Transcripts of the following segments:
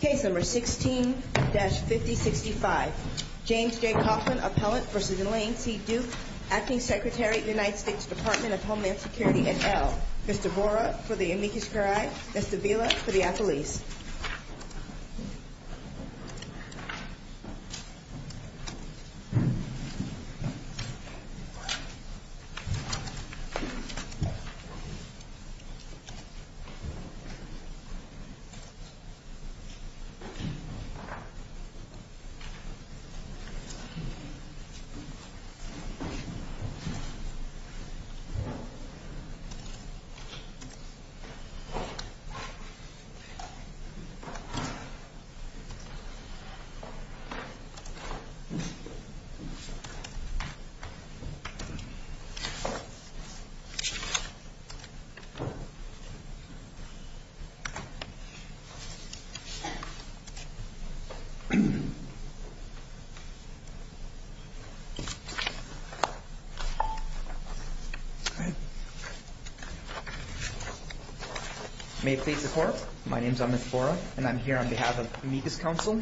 Case No. 16-5065 James J. Kaufman, appellant v. Elaine C. Duke, Acting Secretary, United States Department of Homeland Security et al. Mr. Bora for the amicus curiae, Mr. Vila for the affilis. Mr. Bora for the amicus curiae, Mr. Vila for the affilis. Mr. Bora for the amicus curiae, Mr. Vila for the affilis. May it please the Court, my name is Amit Bora and I'm here on behalf of the amicus counsel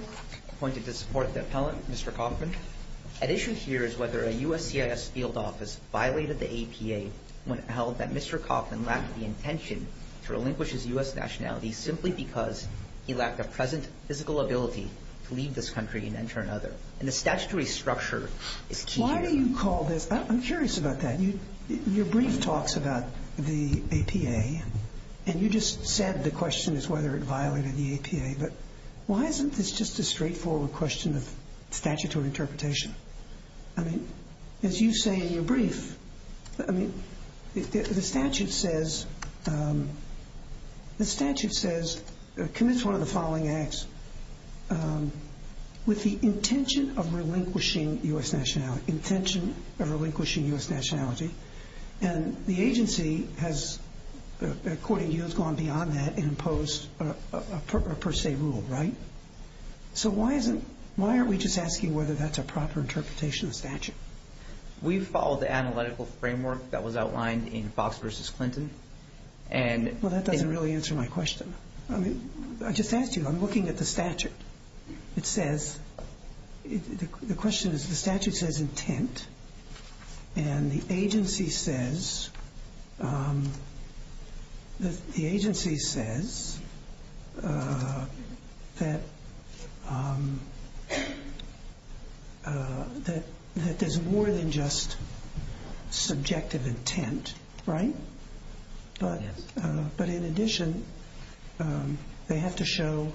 appointed to support the appellant, Mr. Kaufman. At issue here is whether a U.S. CIS field office violated the APA when it held that Mr. Kaufman lacked the intention to relinquish his U.S. nationality simply because he lacked a present physical ability to leave this country and enter another. And the statutory structure is key here. I'm curious about that. Your brief talks about the APA and you just said the question is whether it violated the APA. But why isn't this just a straightforward question of statutory interpretation? I mean, as you say in your brief, the statute says, commits one of the following acts with the intention of relinquishing U.S. nationality, intention of relinquishing U.S. nationality. And the agency has, according to you, has gone beyond that and imposed a per se rule, right? So why isn't, why aren't we just asking whether that's a proper interpretation of statute? We followed the analytical framework that was outlined in Fox v. Clinton and Well, that doesn't really answer my question. I mean, I just asked you, I'm looking at the statute. It says, the question is, the statute says intent. And the agency says, the agency says that there's more than just subjective intent, right? But in addition, they have to show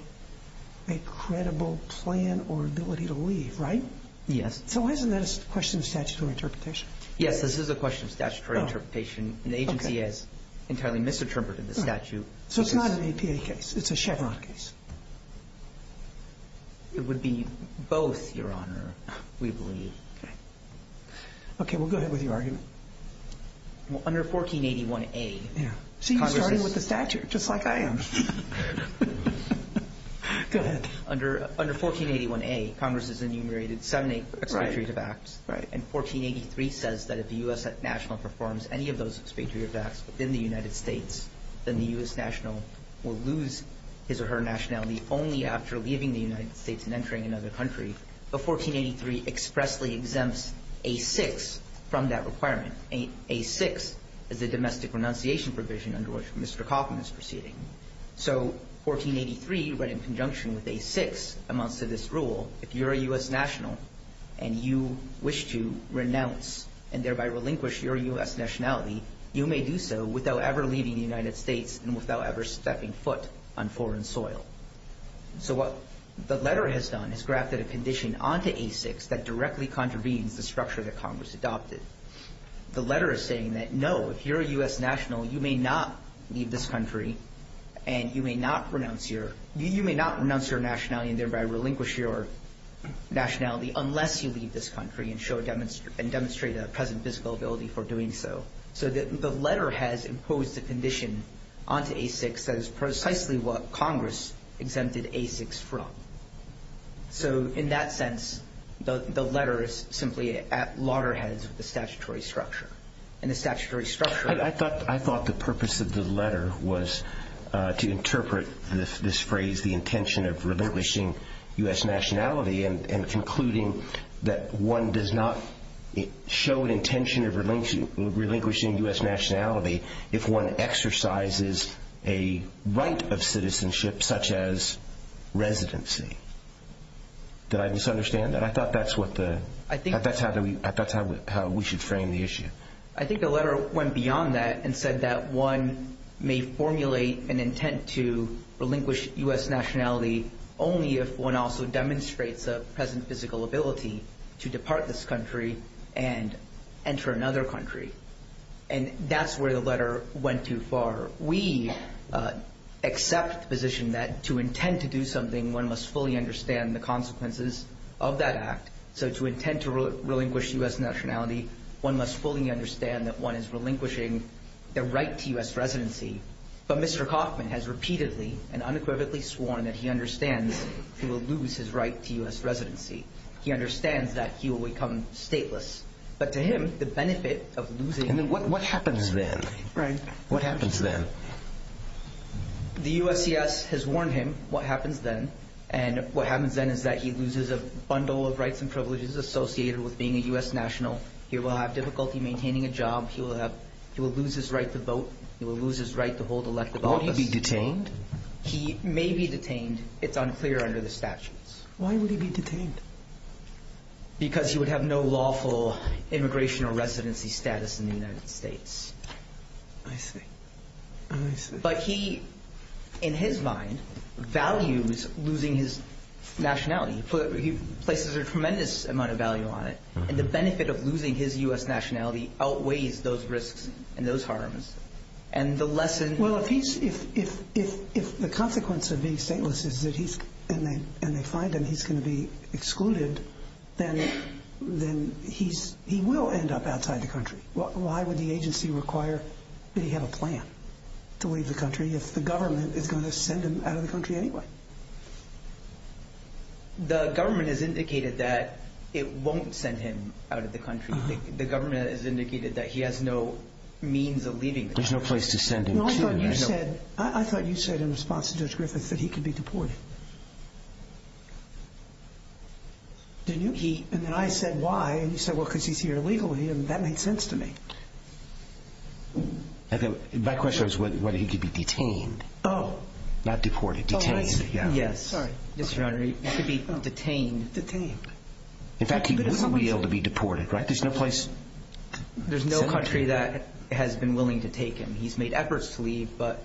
a credible plan or ability to leave, right? Yes. So why isn't that a question of statutory interpretation? Yes, this is a question of statutory interpretation. The agency has entirely misinterpreted the statute. So it's not an APA case. It's a Chevron case. It would be both, Your Honor, we believe. Okay. Okay, well, go ahead with your argument. Well, under 1481A, Congress is See, you're starting with the statute, just like I am. Go ahead. Under 1481A, Congress has enumerated seven expatriative acts. Right. And 1483 says that if a U.S. national performs any of those expatriative acts within the United States, then the U.S. national will lose his or her nationality only after leaving the United States and entering another country. But 1483 expressly exempts A-6 from that requirement. A-6 is a domestic renunciation provision under which Mr. Kaufman is proceeding. So 1483, right in conjunction with A-6, amounts to this rule. If you're a U.S. national and you wish to renounce and thereby relinquish your U.S. nationality, you may do so without ever leaving the United States and without ever stepping foot on foreign soil. So what the letter has done is grafted a condition onto A-6 that directly contravenes the structure that Congress adopted. The letter is saying that, no, if you're a U.S. national, you may not leave this country and you may not renounce your nationality and thereby relinquish your nationality unless you leave this country and demonstrate a present physical ability for doing so. So the letter has imposed a condition onto A-6 that is precisely what Congress exempted A-6 from. So in that sense, the letter is simply at loggerheads with the statutory structure. And the statutory structure— I thought the purpose of the letter was to interpret this phrase, the intention of relinquishing U.S. nationality, and concluding that one does not show an intention of relinquishing U.S. nationality if one exercises a right of citizenship such as residency. Did I misunderstand that? I thought that's how we should frame the issue. I think the letter went beyond that and said that one may formulate an intent to relinquish U.S. nationality only if one also demonstrates a present physical ability to depart this country and enter another country. And that's where the letter went too far. We accept the position that to intend to do something, one must fully understand the consequences of that act. So to intend to relinquish U.S. nationality, one must fully understand that one is relinquishing their right to U.S. residency. But Mr. Coffman has repeatedly and unequivocally sworn that he understands he will lose his right to U.S. residency. He understands that he will become stateless. But to him, the benefit of losing— What happens then? Right. What happens then? The USCIS has warned him what happens then. And what happens then is that he loses a bundle of rights and privileges associated with being a U.S. national. He will have difficulty maintaining a job. He will lose his right to vote. He will lose his right to hold elective office. Will he be detained? He may be detained. It's unclear under the statutes. Why would he be detained? Because he would have no lawful immigration or residency status in the United States. I see. I see. But he, in his mind, values losing his nationality. He places a tremendous amount of value on it. And the benefit of losing his U.S. nationality outweighs those risks and those harms. And the lesson— Well, if he's—if the consequence of being stateless is that he's—and they find him he's going to be excluded, then he will end up outside the country. Why would the agency require that he have a plan to leave the country if the government is going to send him out of the country anyway? The government has indicated that it won't send him out of the country. The government has indicated that he has no means of leaving the country. There's no place to send him to. No, I thought you said—I thought you said in response to Judge Griffith that he could be deported. Didn't you? He—and then I said, why? And you said, well, because he's here illegally. And that made sense to me. My question was whether he could be detained. Oh. Not deported. Detained. Yes. Sorry. Yes, Your Honor, he could be detained. Detained. In fact, he wouldn't be able to be deported, right? There's no place to send him? There's no country that has been willing to take him. He's made efforts to leave, but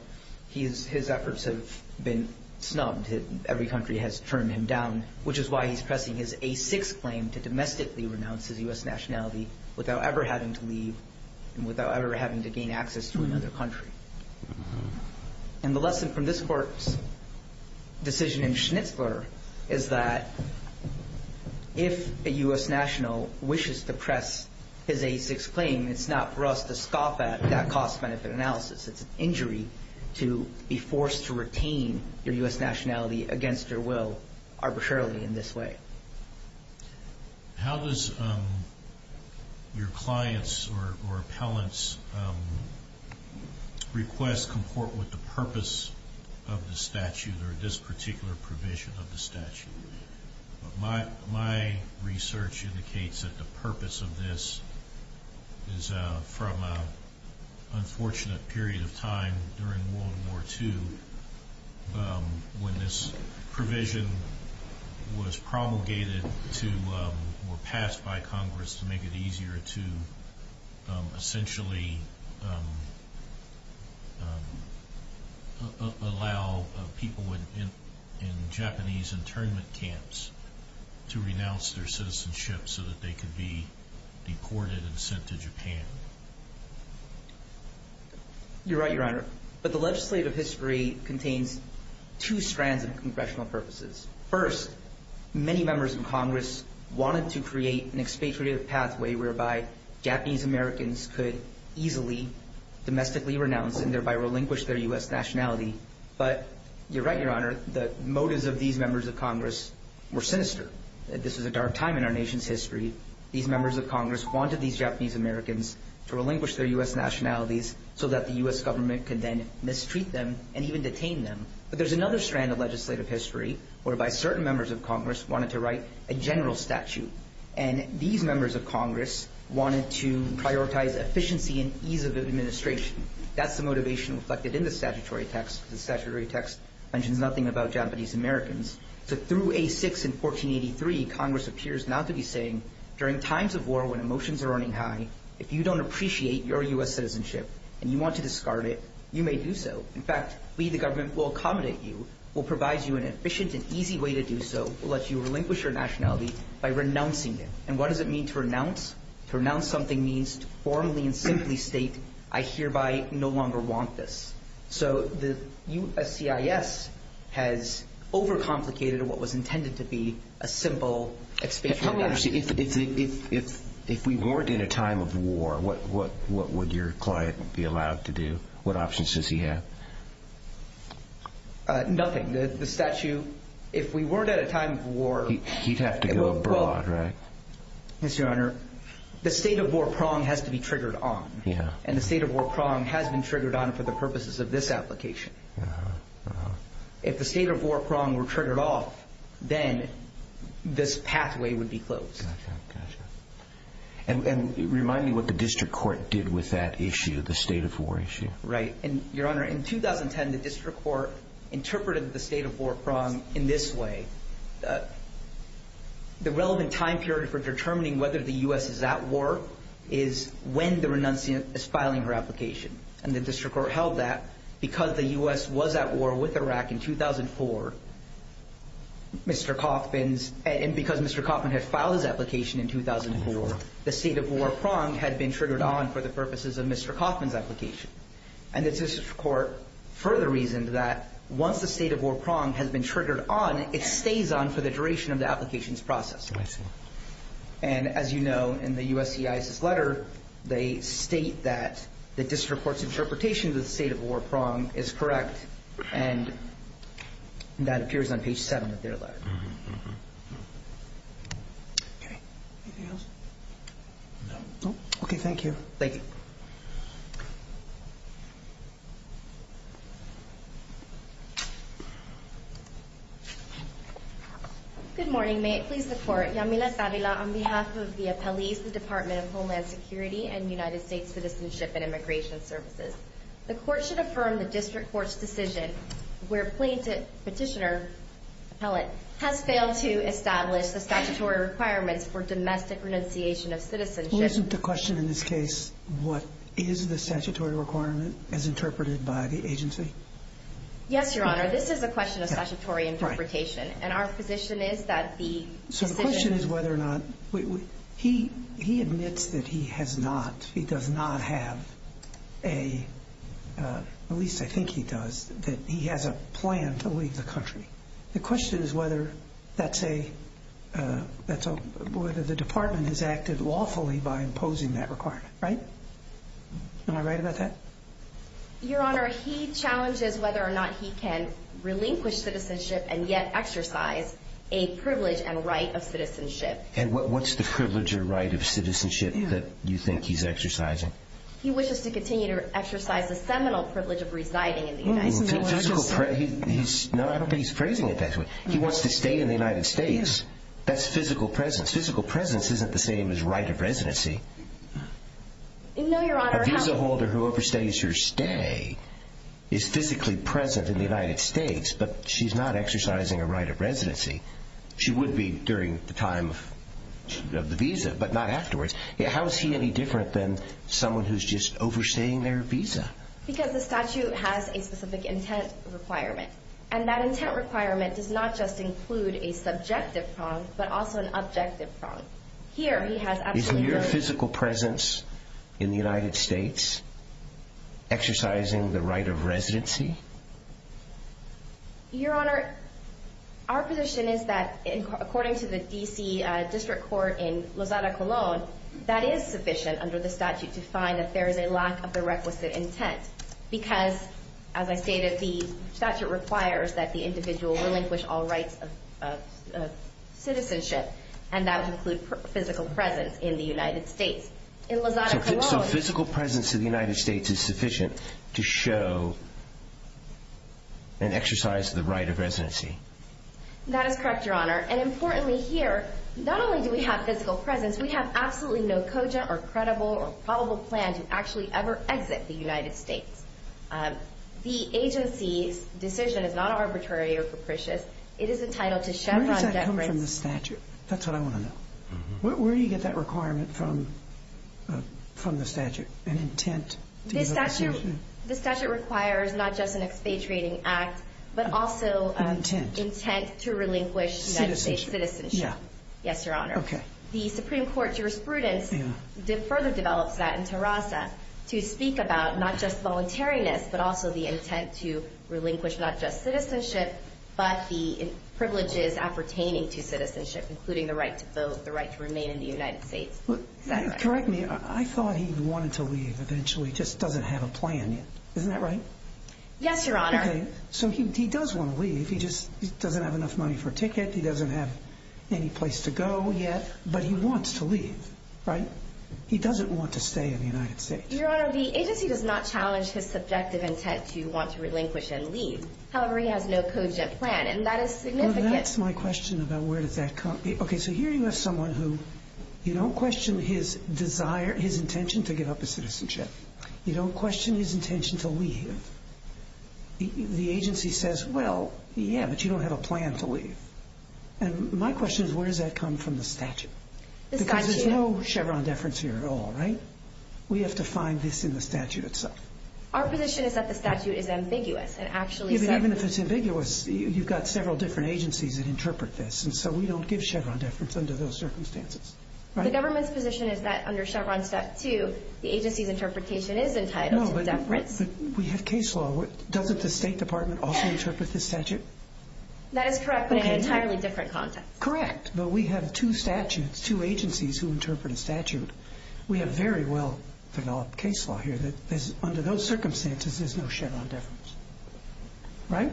his efforts have been snubbed. Every country has turned him down, which is why he's pressing his A6 claim to domestically renounce his U.S. nationality without ever having to leave and without ever having to gain access to another country. And the lesson from this Court's decision in Schnitzler is that if a U.S. national wishes to press his A6 claim, it's not for us to scoff at that cost-benefit analysis. It's an injury to be forced to retain your U.S. nationality against your will arbitrarily in this way. How does your client's or appellant's request comport with the purpose of the statute or this particular provision of the statute? My research indicates that the purpose of this is from an unfortunate period of time during World War II when this provision was promulgated or passed by Congress to make it easier to essentially allow people in Japanese internment camps to renounce their citizenship so that they could be deported and sent to Japan. You're right, Your Honor. But the legislative history contains two strands of congressional purposes. First, many members of Congress wanted to create an expatriate pathway whereby Japanese Americans could easily domestically renounce and thereby relinquish their U.S. nationality. But you're right, Your Honor, the motives of these members of Congress were sinister. This was a dark time in our nation's history. These members of Congress wanted these Japanese Americans to relinquish their U.S. nationalities so that the U.S. government could then mistreat them and even detain them. But there's another strand of legislative history whereby certain members of Congress wanted to write a general statute. And these members of Congress wanted to prioritize efficiency and ease of administration. That's the motivation reflected in the statutory text because the statutory text mentions nothing about Japanese Americans. So through A6 in 1483, Congress appears now to be saying, during times of war when emotions are running high, if you don't appreciate your U.S. citizenship and you want to discard it, you may do so. In fact, we, the government, will accommodate you, will provide you an efficient and easy way to do so, will let you relinquish your nationality by renouncing it. And what does it mean to renounce? To renounce something means to formally and simply state, I hereby no longer want this. So the USCIS has overcomplicated what was intended to be a simple expansion of that. If we weren't in a time of war, what would your client be allowed to do? What options does he have? Nothing. The statute, if we weren't at a time of war. He'd have to go abroad, right? Yes, Your Honor. The state of war prong has to be triggered on. Yeah. And the state of war prong has been triggered on for the purposes of this application. Uh-huh. Uh-huh. If the state of war prong were triggered off, then this pathway would be closed. Gotcha. Gotcha. And remind me what the district court did with that issue, the state of war issue. Right. And, Your Honor, in 2010, the district court interpreted the state of war prong in this way. The relevant time period for determining whether the U.S. is at war is when the renunciant is filing her application. And the district court held that because the U.S. was at war with Iraq in 2004, Mr. Kaufman's, and because Mr. Kaufman had filed his application in 2004, the state of war prong had been triggered on for the purposes of Mr. Kaufman's application. And the district court further reasoned that once the state of war prong has been triggered on, it stays on for the duration of the application's process. I see. And, as you know, in the USCIS's letter, they state that the district court's interpretation of the state of war prong is correct, and that appears on page 7 of their letter. Uh-huh. Uh-huh. Okay. Anything else? No. Okay. Thank you. Thank you. Good morning. May it please the Court. Yamila Savila on behalf of the appellees of the Department of Homeland Security and United States Citizenship and Immigration Services. The Court should affirm the district court's decision where plaintiff petitioner, appellate, has failed to establish the statutory requirements for domestic renunciation of citizenship. Well, isn't the question in this case, what is the statutory requirement as interpreted by the agency? Yes, Your Honor. This is a question of statutory interpretation. Right. And our position is that the decision... So the question is whether or not... He admits that he has not, he does not have a, at least I think he does, that he has a plan to leave the country. The question is whether that's a, whether the department has acted lawfully by imposing that requirement, right? Am I right about that? Your Honor, he challenges whether or not he can relinquish citizenship and yet exercise a privilege and right of citizenship. And what's the privilege or right of citizenship that you think he's exercising? He wishes to continue to exercise the seminal privilege of residing in the United States. No, I don't think he's phrasing it that way. He wants to stay in the United States. That's physical presence. Physical presence isn't the same as right of residency. No, Your Honor. A visa holder who overstays her stay is physically present in the United States, but she's not exercising a right of residency. She would be during the time of the visa, but not afterwards. How is he any different than someone who's just overstaying their visa? Because the statute has a specific intent requirement. And that intent requirement does not just include a subjective prong, but also an objective prong. Here, he has absolutely... Is your physical presence in the United States exercising the right of residency? Your Honor, our position is that, according to the D.C. District Court in Lozada, Colón, that is sufficient under the statute to find that there is a lack of the requisite intent. Because, as I stated, the statute requires that the individual relinquish all rights of citizenship, and that would include physical presence in the United States. In Lozada, Colón... So physical presence in the United States is sufficient to show an exercise of the right of residency. That is correct, Your Honor. And importantly here, not only do we have physical presence, we have absolutely no cogent or credible or probable plan to actually ever exit the United States. The agency's decision is not arbitrary or capricious. It is entitled to Chevron deference... Where does that come from, the statute? That's what I want to know. Where do you get that requirement from, from the statute, an intent to give up a citizenship? An intent. Intent to relinquish United States citizenship. Citizenship, yeah. Yes, Your Honor. Okay. The Supreme Court jurisprudence further develops that in Terraza, to speak about not just voluntariness, but also the intent to relinquish not just citizenship, but the privileges appertaining to citizenship, including the right to vote, the right to remain in the United States. Correct me, I thought he wanted to leave eventually, just doesn't have a plan yet. Isn't that right? Yes, Your Honor. Okay. So he does want to leave. He just doesn't have enough money for a ticket. He doesn't have any place to go yet, but he wants to leave, right? He doesn't want to stay in the United States. Your Honor, the agency does not challenge his subjective intent to want to relinquish and leave. However, he has no cogent plan, and that is significant. Well, that's my question about where does that come from. Okay, so here you have someone who you don't question his desire, his intention to give up his citizenship. You don't question his intention to leave. The agency says, well, yeah, but you don't have a plan to leave. And my question is where does that come from the statute? Because there's no Chevron deference here at all, right? We have to find this in the statute itself. Our position is that the statute is ambiguous and actually says— Even if it's ambiguous, you've got several different agencies that interpret this, and so we don't give Chevron deference under those circumstances. The government's position is that under Chevron Step 2, the agency's interpretation is entitled to deference. No, but we have case law. Doesn't the State Department also interpret this statute? That is correct, but in an entirely different context. Correct, but we have two statutes, two agencies who interpret a statute. We have very well-developed case law here that under those circumstances, there's no Chevron deference, right?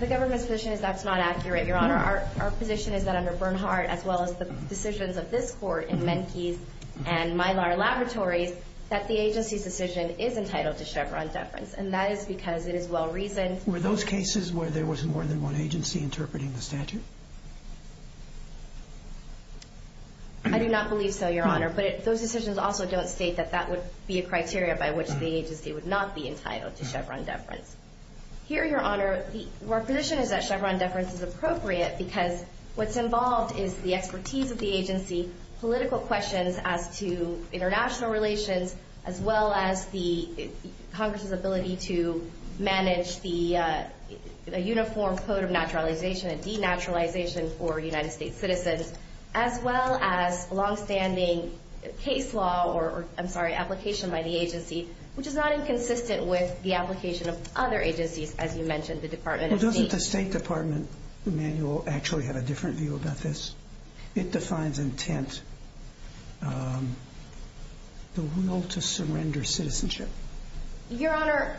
The government's position is that's not accurate, Your Honor. Your Honor, our position is that under Bernhardt, as well as the decisions of this Court in Menkes and Mylar Laboratories, that the agency's decision is entitled to Chevron deference, and that is because it is well-reasoned. Were those cases where there was more than one agency interpreting the statute? I do not believe so, Your Honor. But those decisions also don't state that that would be a criteria by which the agency would not be entitled to Chevron deference. Here, Your Honor, our position is that Chevron deference is appropriate because what's involved is the expertise of the agency, political questions as to international relations, as well as Congress's ability to manage the uniform code of naturalization and denaturalization for United States citizens, as well as longstanding case law or, I'm sorry, application by the agency, which is not inconsistent with the application of other agencies, as you mentioned, the Department of State. Well, doesn't the State Department manual actually have a different view about this? It defines intent, the will to surrender citizenship. Your Honor,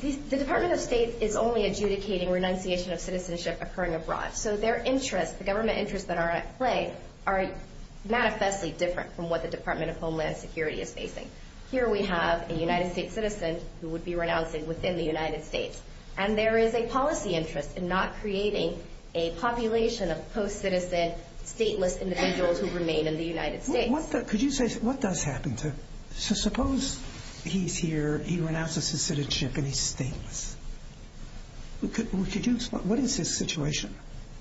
the Department of State is only adjudicating renunciation of citizenship occurring abroad, so their interests, the government interests that are at play, are manifestly different from what the Department of Homeland Security is facing. Here we have a United States citizen who would be renouncing within the United States, and there is a policy interest in not creating a population of post-citizen, stateless individuals who remain in the United States. Could you say what does happen? So suppose he's here, he renounces his citizenship, and he's stateless. What is his situation?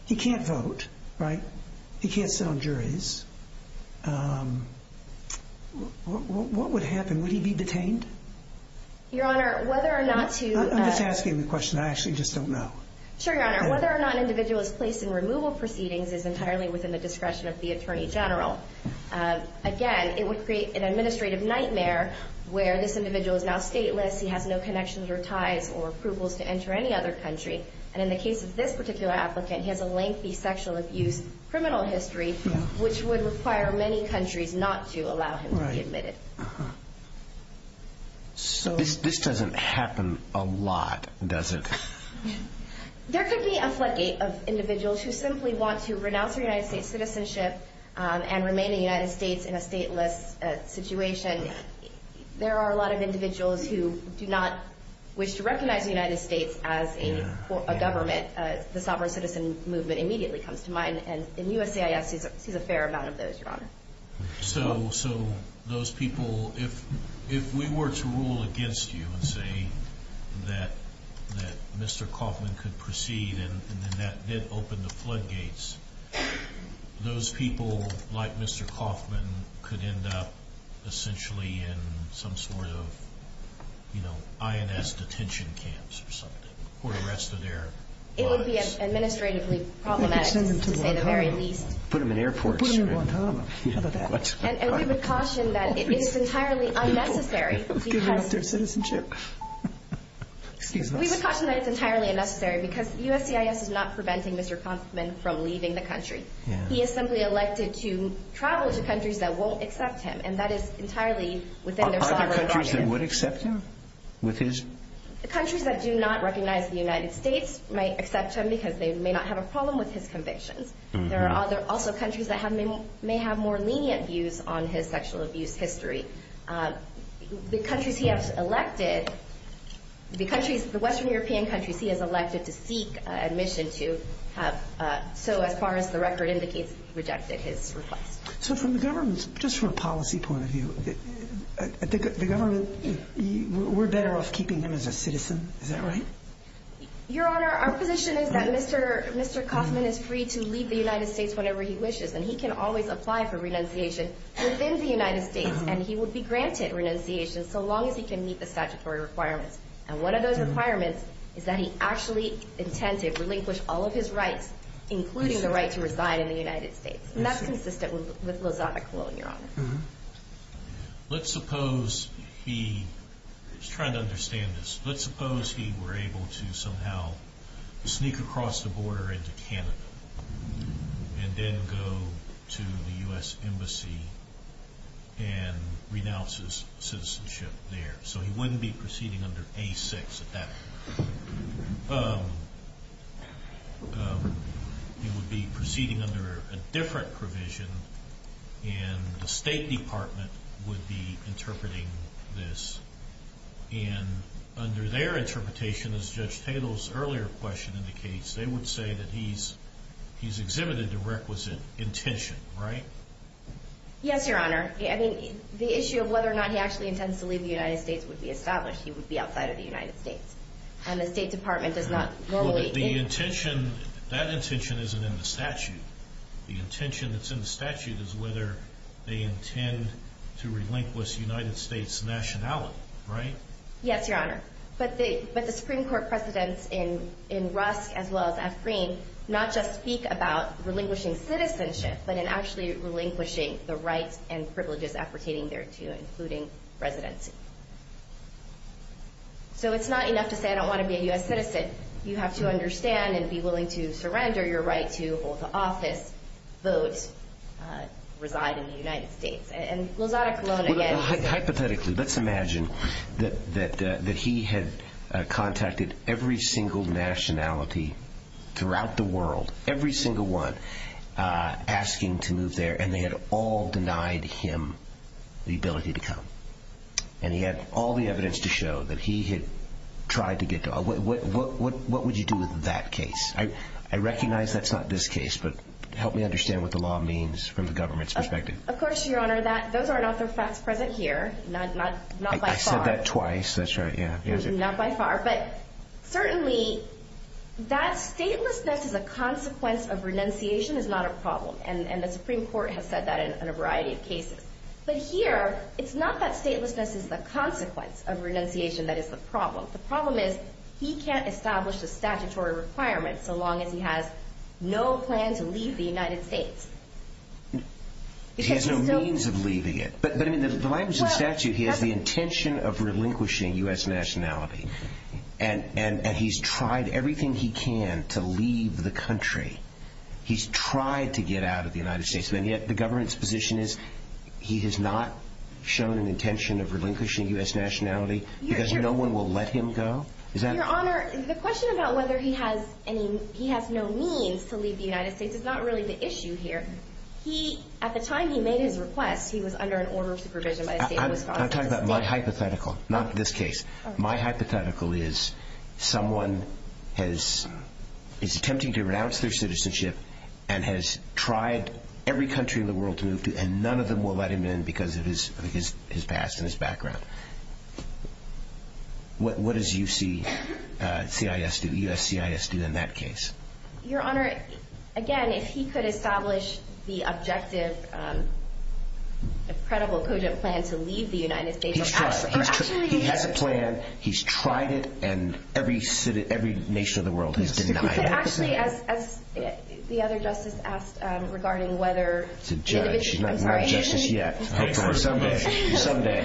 He can't vote, right? He can't sit on juries. What would happen? Would he be detained? Your Honor, whether or not to— I'm just asking the question. I actually just don't know. Sure, Your Honor. Whether or not an individual is placed in removal proceedings is entirely within the discretion of the Attorney General. Again, it would create an administrative nightmare where this individual is now stateless, he has no connections or ties or approvals to enter any other country, and in the case of this particular applicant, he has a lengthy sexual abuse criminal history, which would require many countries not to allow him to be admitted. This doesn't happen a lot, does it? There could be a floodgate of individuals who simply want to renounce their United States citizenship and remain in the United States in a stateless situation. There are a lot of individuals who do not wish to recognize the United States as a government. The sovereign citizen movement immediately comes to mind, and USCIS sees a fair amount of those, Your Honor. So those people, if we were to rule against you and say that Mr. Kauffman could proceed and that did open the floodgates, those people, like Mr. Kauffman, could end up essentially in some sort of INS detention camps or something, or the rest of their lives. It would be administratively problematic, to say the very least. Put them in airports. Put them in Guantanamo. And we would caution that it is entirely unnecessary. Give them up their citizenship. We would caution that it's entirely unnecessary because USCIS is not preventing Mr. Kauffman from leaving the country. He is simply elected to travel to countries that won't accept him, and that is entirely within their sovereign right. Are there countries that would accept him? Countries that do not recognize the United States might accept him because they may not have a problem with his convictions. There are also countries that may have more lenient views on his sexual abuse history. The countries he has elected, the Western European countries he has elected to seek admission to, so as far as the record indicates, rejected his request. So from the government's, just from a policy point of view, the government, we're better off keeping him as a citizen. Is that right? Your Honor, our position is that Mr. Kauffman is free to leave the United States whenever he wishes, and he can always apply for renunciation within the United States, and he will be granted renunciation so long as he can meet the statutory requirements. And one of those requirements is that he actually intend to relinquish all of his rights, including the right to reside in the United States. And that's consistent with Lozano Colon, Your Honor. Let's suppose he, just trying to understand this, let's suppose he were able to somehow sneak across the border into Canada and then go to the U.S. Embassy and renounce his citizenship there. So he wouldn't be proceeding under A6 at that point. He would be proceeding under a different provision, and the State Department would be interpreting this. And under their interpretation, as Judge Tatel's earlier question indicates, they would say that he's exhibited a requisite intention, right? Yes, Your Honor. I mean, the issue of whether or not he actually intends to leave the United States would be established. He would be outside of the United States. And the State Department does not morally— Well, but the intention, that intention isn't in the statute. The intention that's in the statute is whether they intend to relinquish United States nationality, right? Yes, Your Honor. But the Supreme Court precedents in Rusk as well as Ephrem not just speak about relinquishing citizenship, but in actually relinquishing the rights and privileges appertaining thereto, including residency. So it's not enough to say, I don't want to be a U.S. citizen. You have to understand and be willing to surrender your right to both office, vote, reside in the United States. And Lozada Colon again— Hypothetically, let's imagine that he had contacted every single nationality throughout the world, every single one, asking to move there, and they had all denied him the ability to come. And he had all the evidence to show that he had tried to get— What would you do with that case? I recognize that's not this case, but help me understand what the law means from the government's perspective. Of course, Your Honor. Those are not the facts present here. Not by far. I said that twice. That's right, yeah. Not by far. But certainly, that statelessness is a consequence of renunciation is not a problem, and the Supreme Court has said that in a variety of cases. But here, it's not that statelessness is the consequence of renunciation that is the problem. The problem is he can't establish the statutory requirements so long as he has no plan to leave the United States. He has no means of leaving it. But in the language of statute, he has the intention of relinquishing U.S. nationality. And he's tried everything he can to leave the country. He's tried to get out of the United States. And yet the government's position is he has not shown an intention of relinquishing U.S. nationality because no one will let him go? Your Honor, the question about whether he has no means to leave the United States is not really the issue here. At the time he made his request, he was under an order of supervision by the state of Wisconsin. I'm talking about my hypothetical, not this case. My hypothetical is someone is attempting to renounce their citizenship and has tried every country in the world to move to, and none of them will let him in because of his past and his background. What does USCIS do in that case? Your Honor, again, if he could establish the objective, credible, cogent plan to leave the United States, he has a plan, he's tried it, and every nation of the world has denied it. Actually, as the other justice asked regarding whether the individual… It's a judge, not a justice yet. Someday, someday.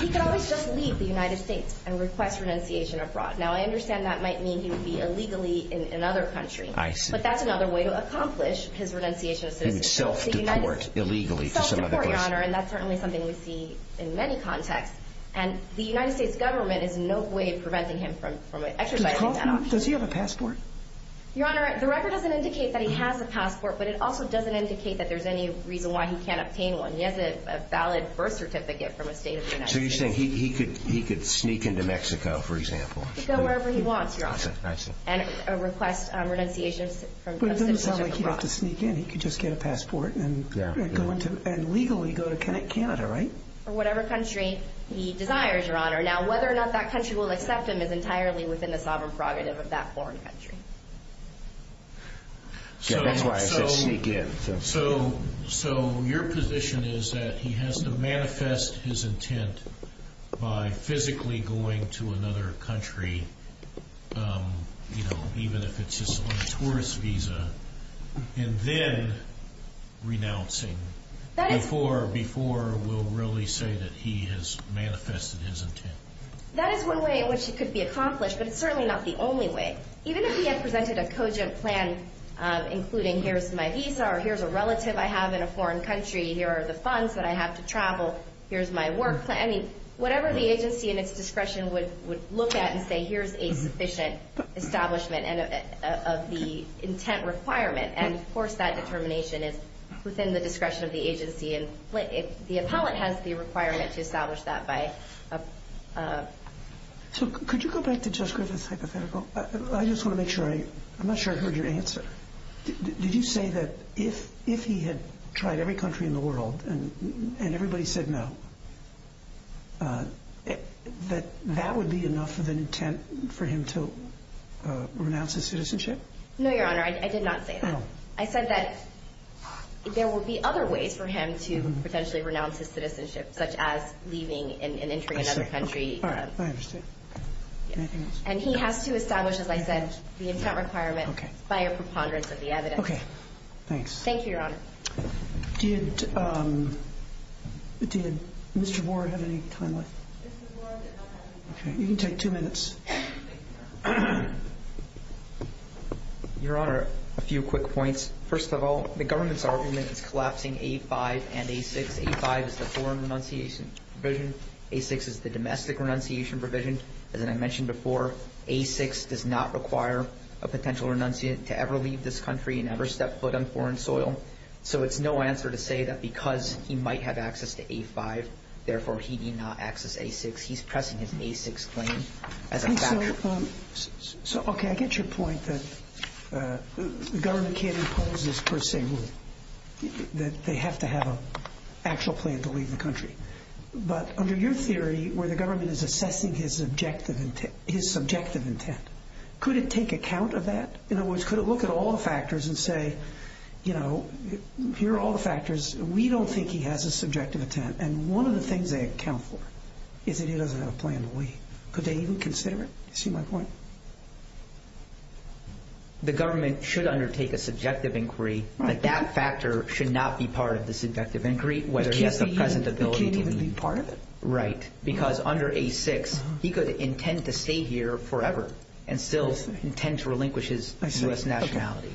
He could always just leave the United States and request renunciation abroad. Now, I understand that might mean he would be illegally in another country. I see. But that's another way to accomplish his renunciation of citizenship. He would self-deport illegally for some other reason. Yes, Your Honor, and that's certainly something we see in many contexts, and the United States government is in no way preventing him from exercising that option. Does he have a passport? Your Honor, the record doesn't indicate that he has a passport, but it also doesn't indicate that there's any reason why he can't obtain one. He has a valid birth certificate from a state of the United States. So you're saying he could sneak into Mexico, for example. He could go wherever he wants, Your Honor, and request renunciation of citizenship abroad. But it doesn't sound like he'd have to sneak in. He could just get a passport and legally go to Canada, right? Or whatever country he desires, Your Honor. Now, whether or not that country will accept him is entirely within the sovereign prerogative of that foreign country. That's why I said sneak in. So your position is that he has to manifest his intent by physically going to another country, even if it's just on a tourist visa, and then renouncing before we'll really say that he has manifested his intent. That is one way in which it could be accomplished, but it's certainly not the only way. Even if he had presented a cogent plan, including here's my visa, or here's a relative I have in a foreign country, here are the funds that I have to travel, here's my work plan. I mean, whatever the agency in its discretion would look at and say here's a sufficient establishment of the intent requirement, and, of course, that determination is within the discretion of the agency. The appellate has the requirement to establish that. So could you go back to Judge Griffith's hypothetical? I just want to make sure. I'm not sure I heard your answer. Did you say that if he had tried every country in the world and everybody said no, that that would be enough of an intent for him to renounce his citizenship? No, Your Honor. I did not say that. I said that there would be other ways for him to potentially renounce his citizenship, such as leaving and entering another country. All right. I understand. Anything else? And he has to establish, as I said, the intent requirement by a preponderance of the evidence. Okay. Thank you, Your Honor. Did Mr. Ward have any time left? Mr. Ward did not have any time. Okay. You can take two minutes. Your Honor, a few quick points. First of all, the government's argument is collapsing A5 and A6. A5 is the foreign renunciation provision. A6 is the domestic renunciation provision. As I mentioned before, A6 does not require a potential renunciate to ever leave this country and ever step foot on foreign soil. So it's no answer to say that because he might have access to A5, therefore he need not access A6. He's pressing his A6 claim as a fact. So, okay, I get your point that the government can't impose this per se rule, that they have to have an actual plan to leave the country. But under your theory, where the government is assessing his subjective intent, could it take account of that? In other words, could it look at all the factors and say, you know, here are all the factors. We don't think he has a subjective intent. And one of the things they account for is that he doesn't have a plan to leave. Could they even consider it? You see my point? The government should undertake a subjective inquiry, but that factor should not be part of the subjective inquiry, whether he has the present ability to leave. They can't even be part of it? Right, because under A6, he could intend to stay here forever and still intend to relinquish his U.S. nationality.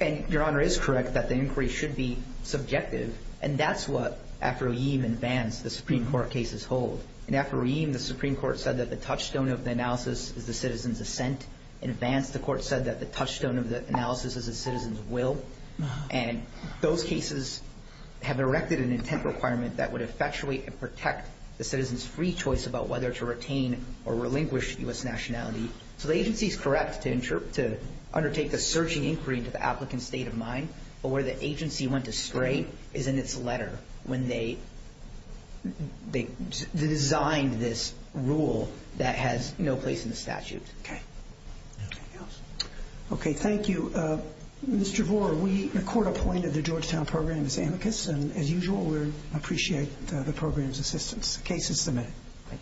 And your Honor is correct that the inquiry should be subjective, and that's what, after Oyeam and Vance, the Supreme Court cases hold. And after Oyeam, the Supreme Court said that the touchstone of the analysis is the citizen's assent. In Vance, the court said that the touchstone of the analysis is the citizen's will. And those cases have erected an intent requirement that would effectuate and protect the citizen's free choice about whether to retain or relinquish U.S. nationality. So the agency is correct to undertake the searching inquiry into the applicant's state of mind, but where the agency went astray is in its letter when they designed this rule that has no place in the statute. Okay. Okay, thank you. Mr. Vore, the court appointed the Georgetown program as amicus, and as usual, we appreciate the program's assistance. The case is submitted.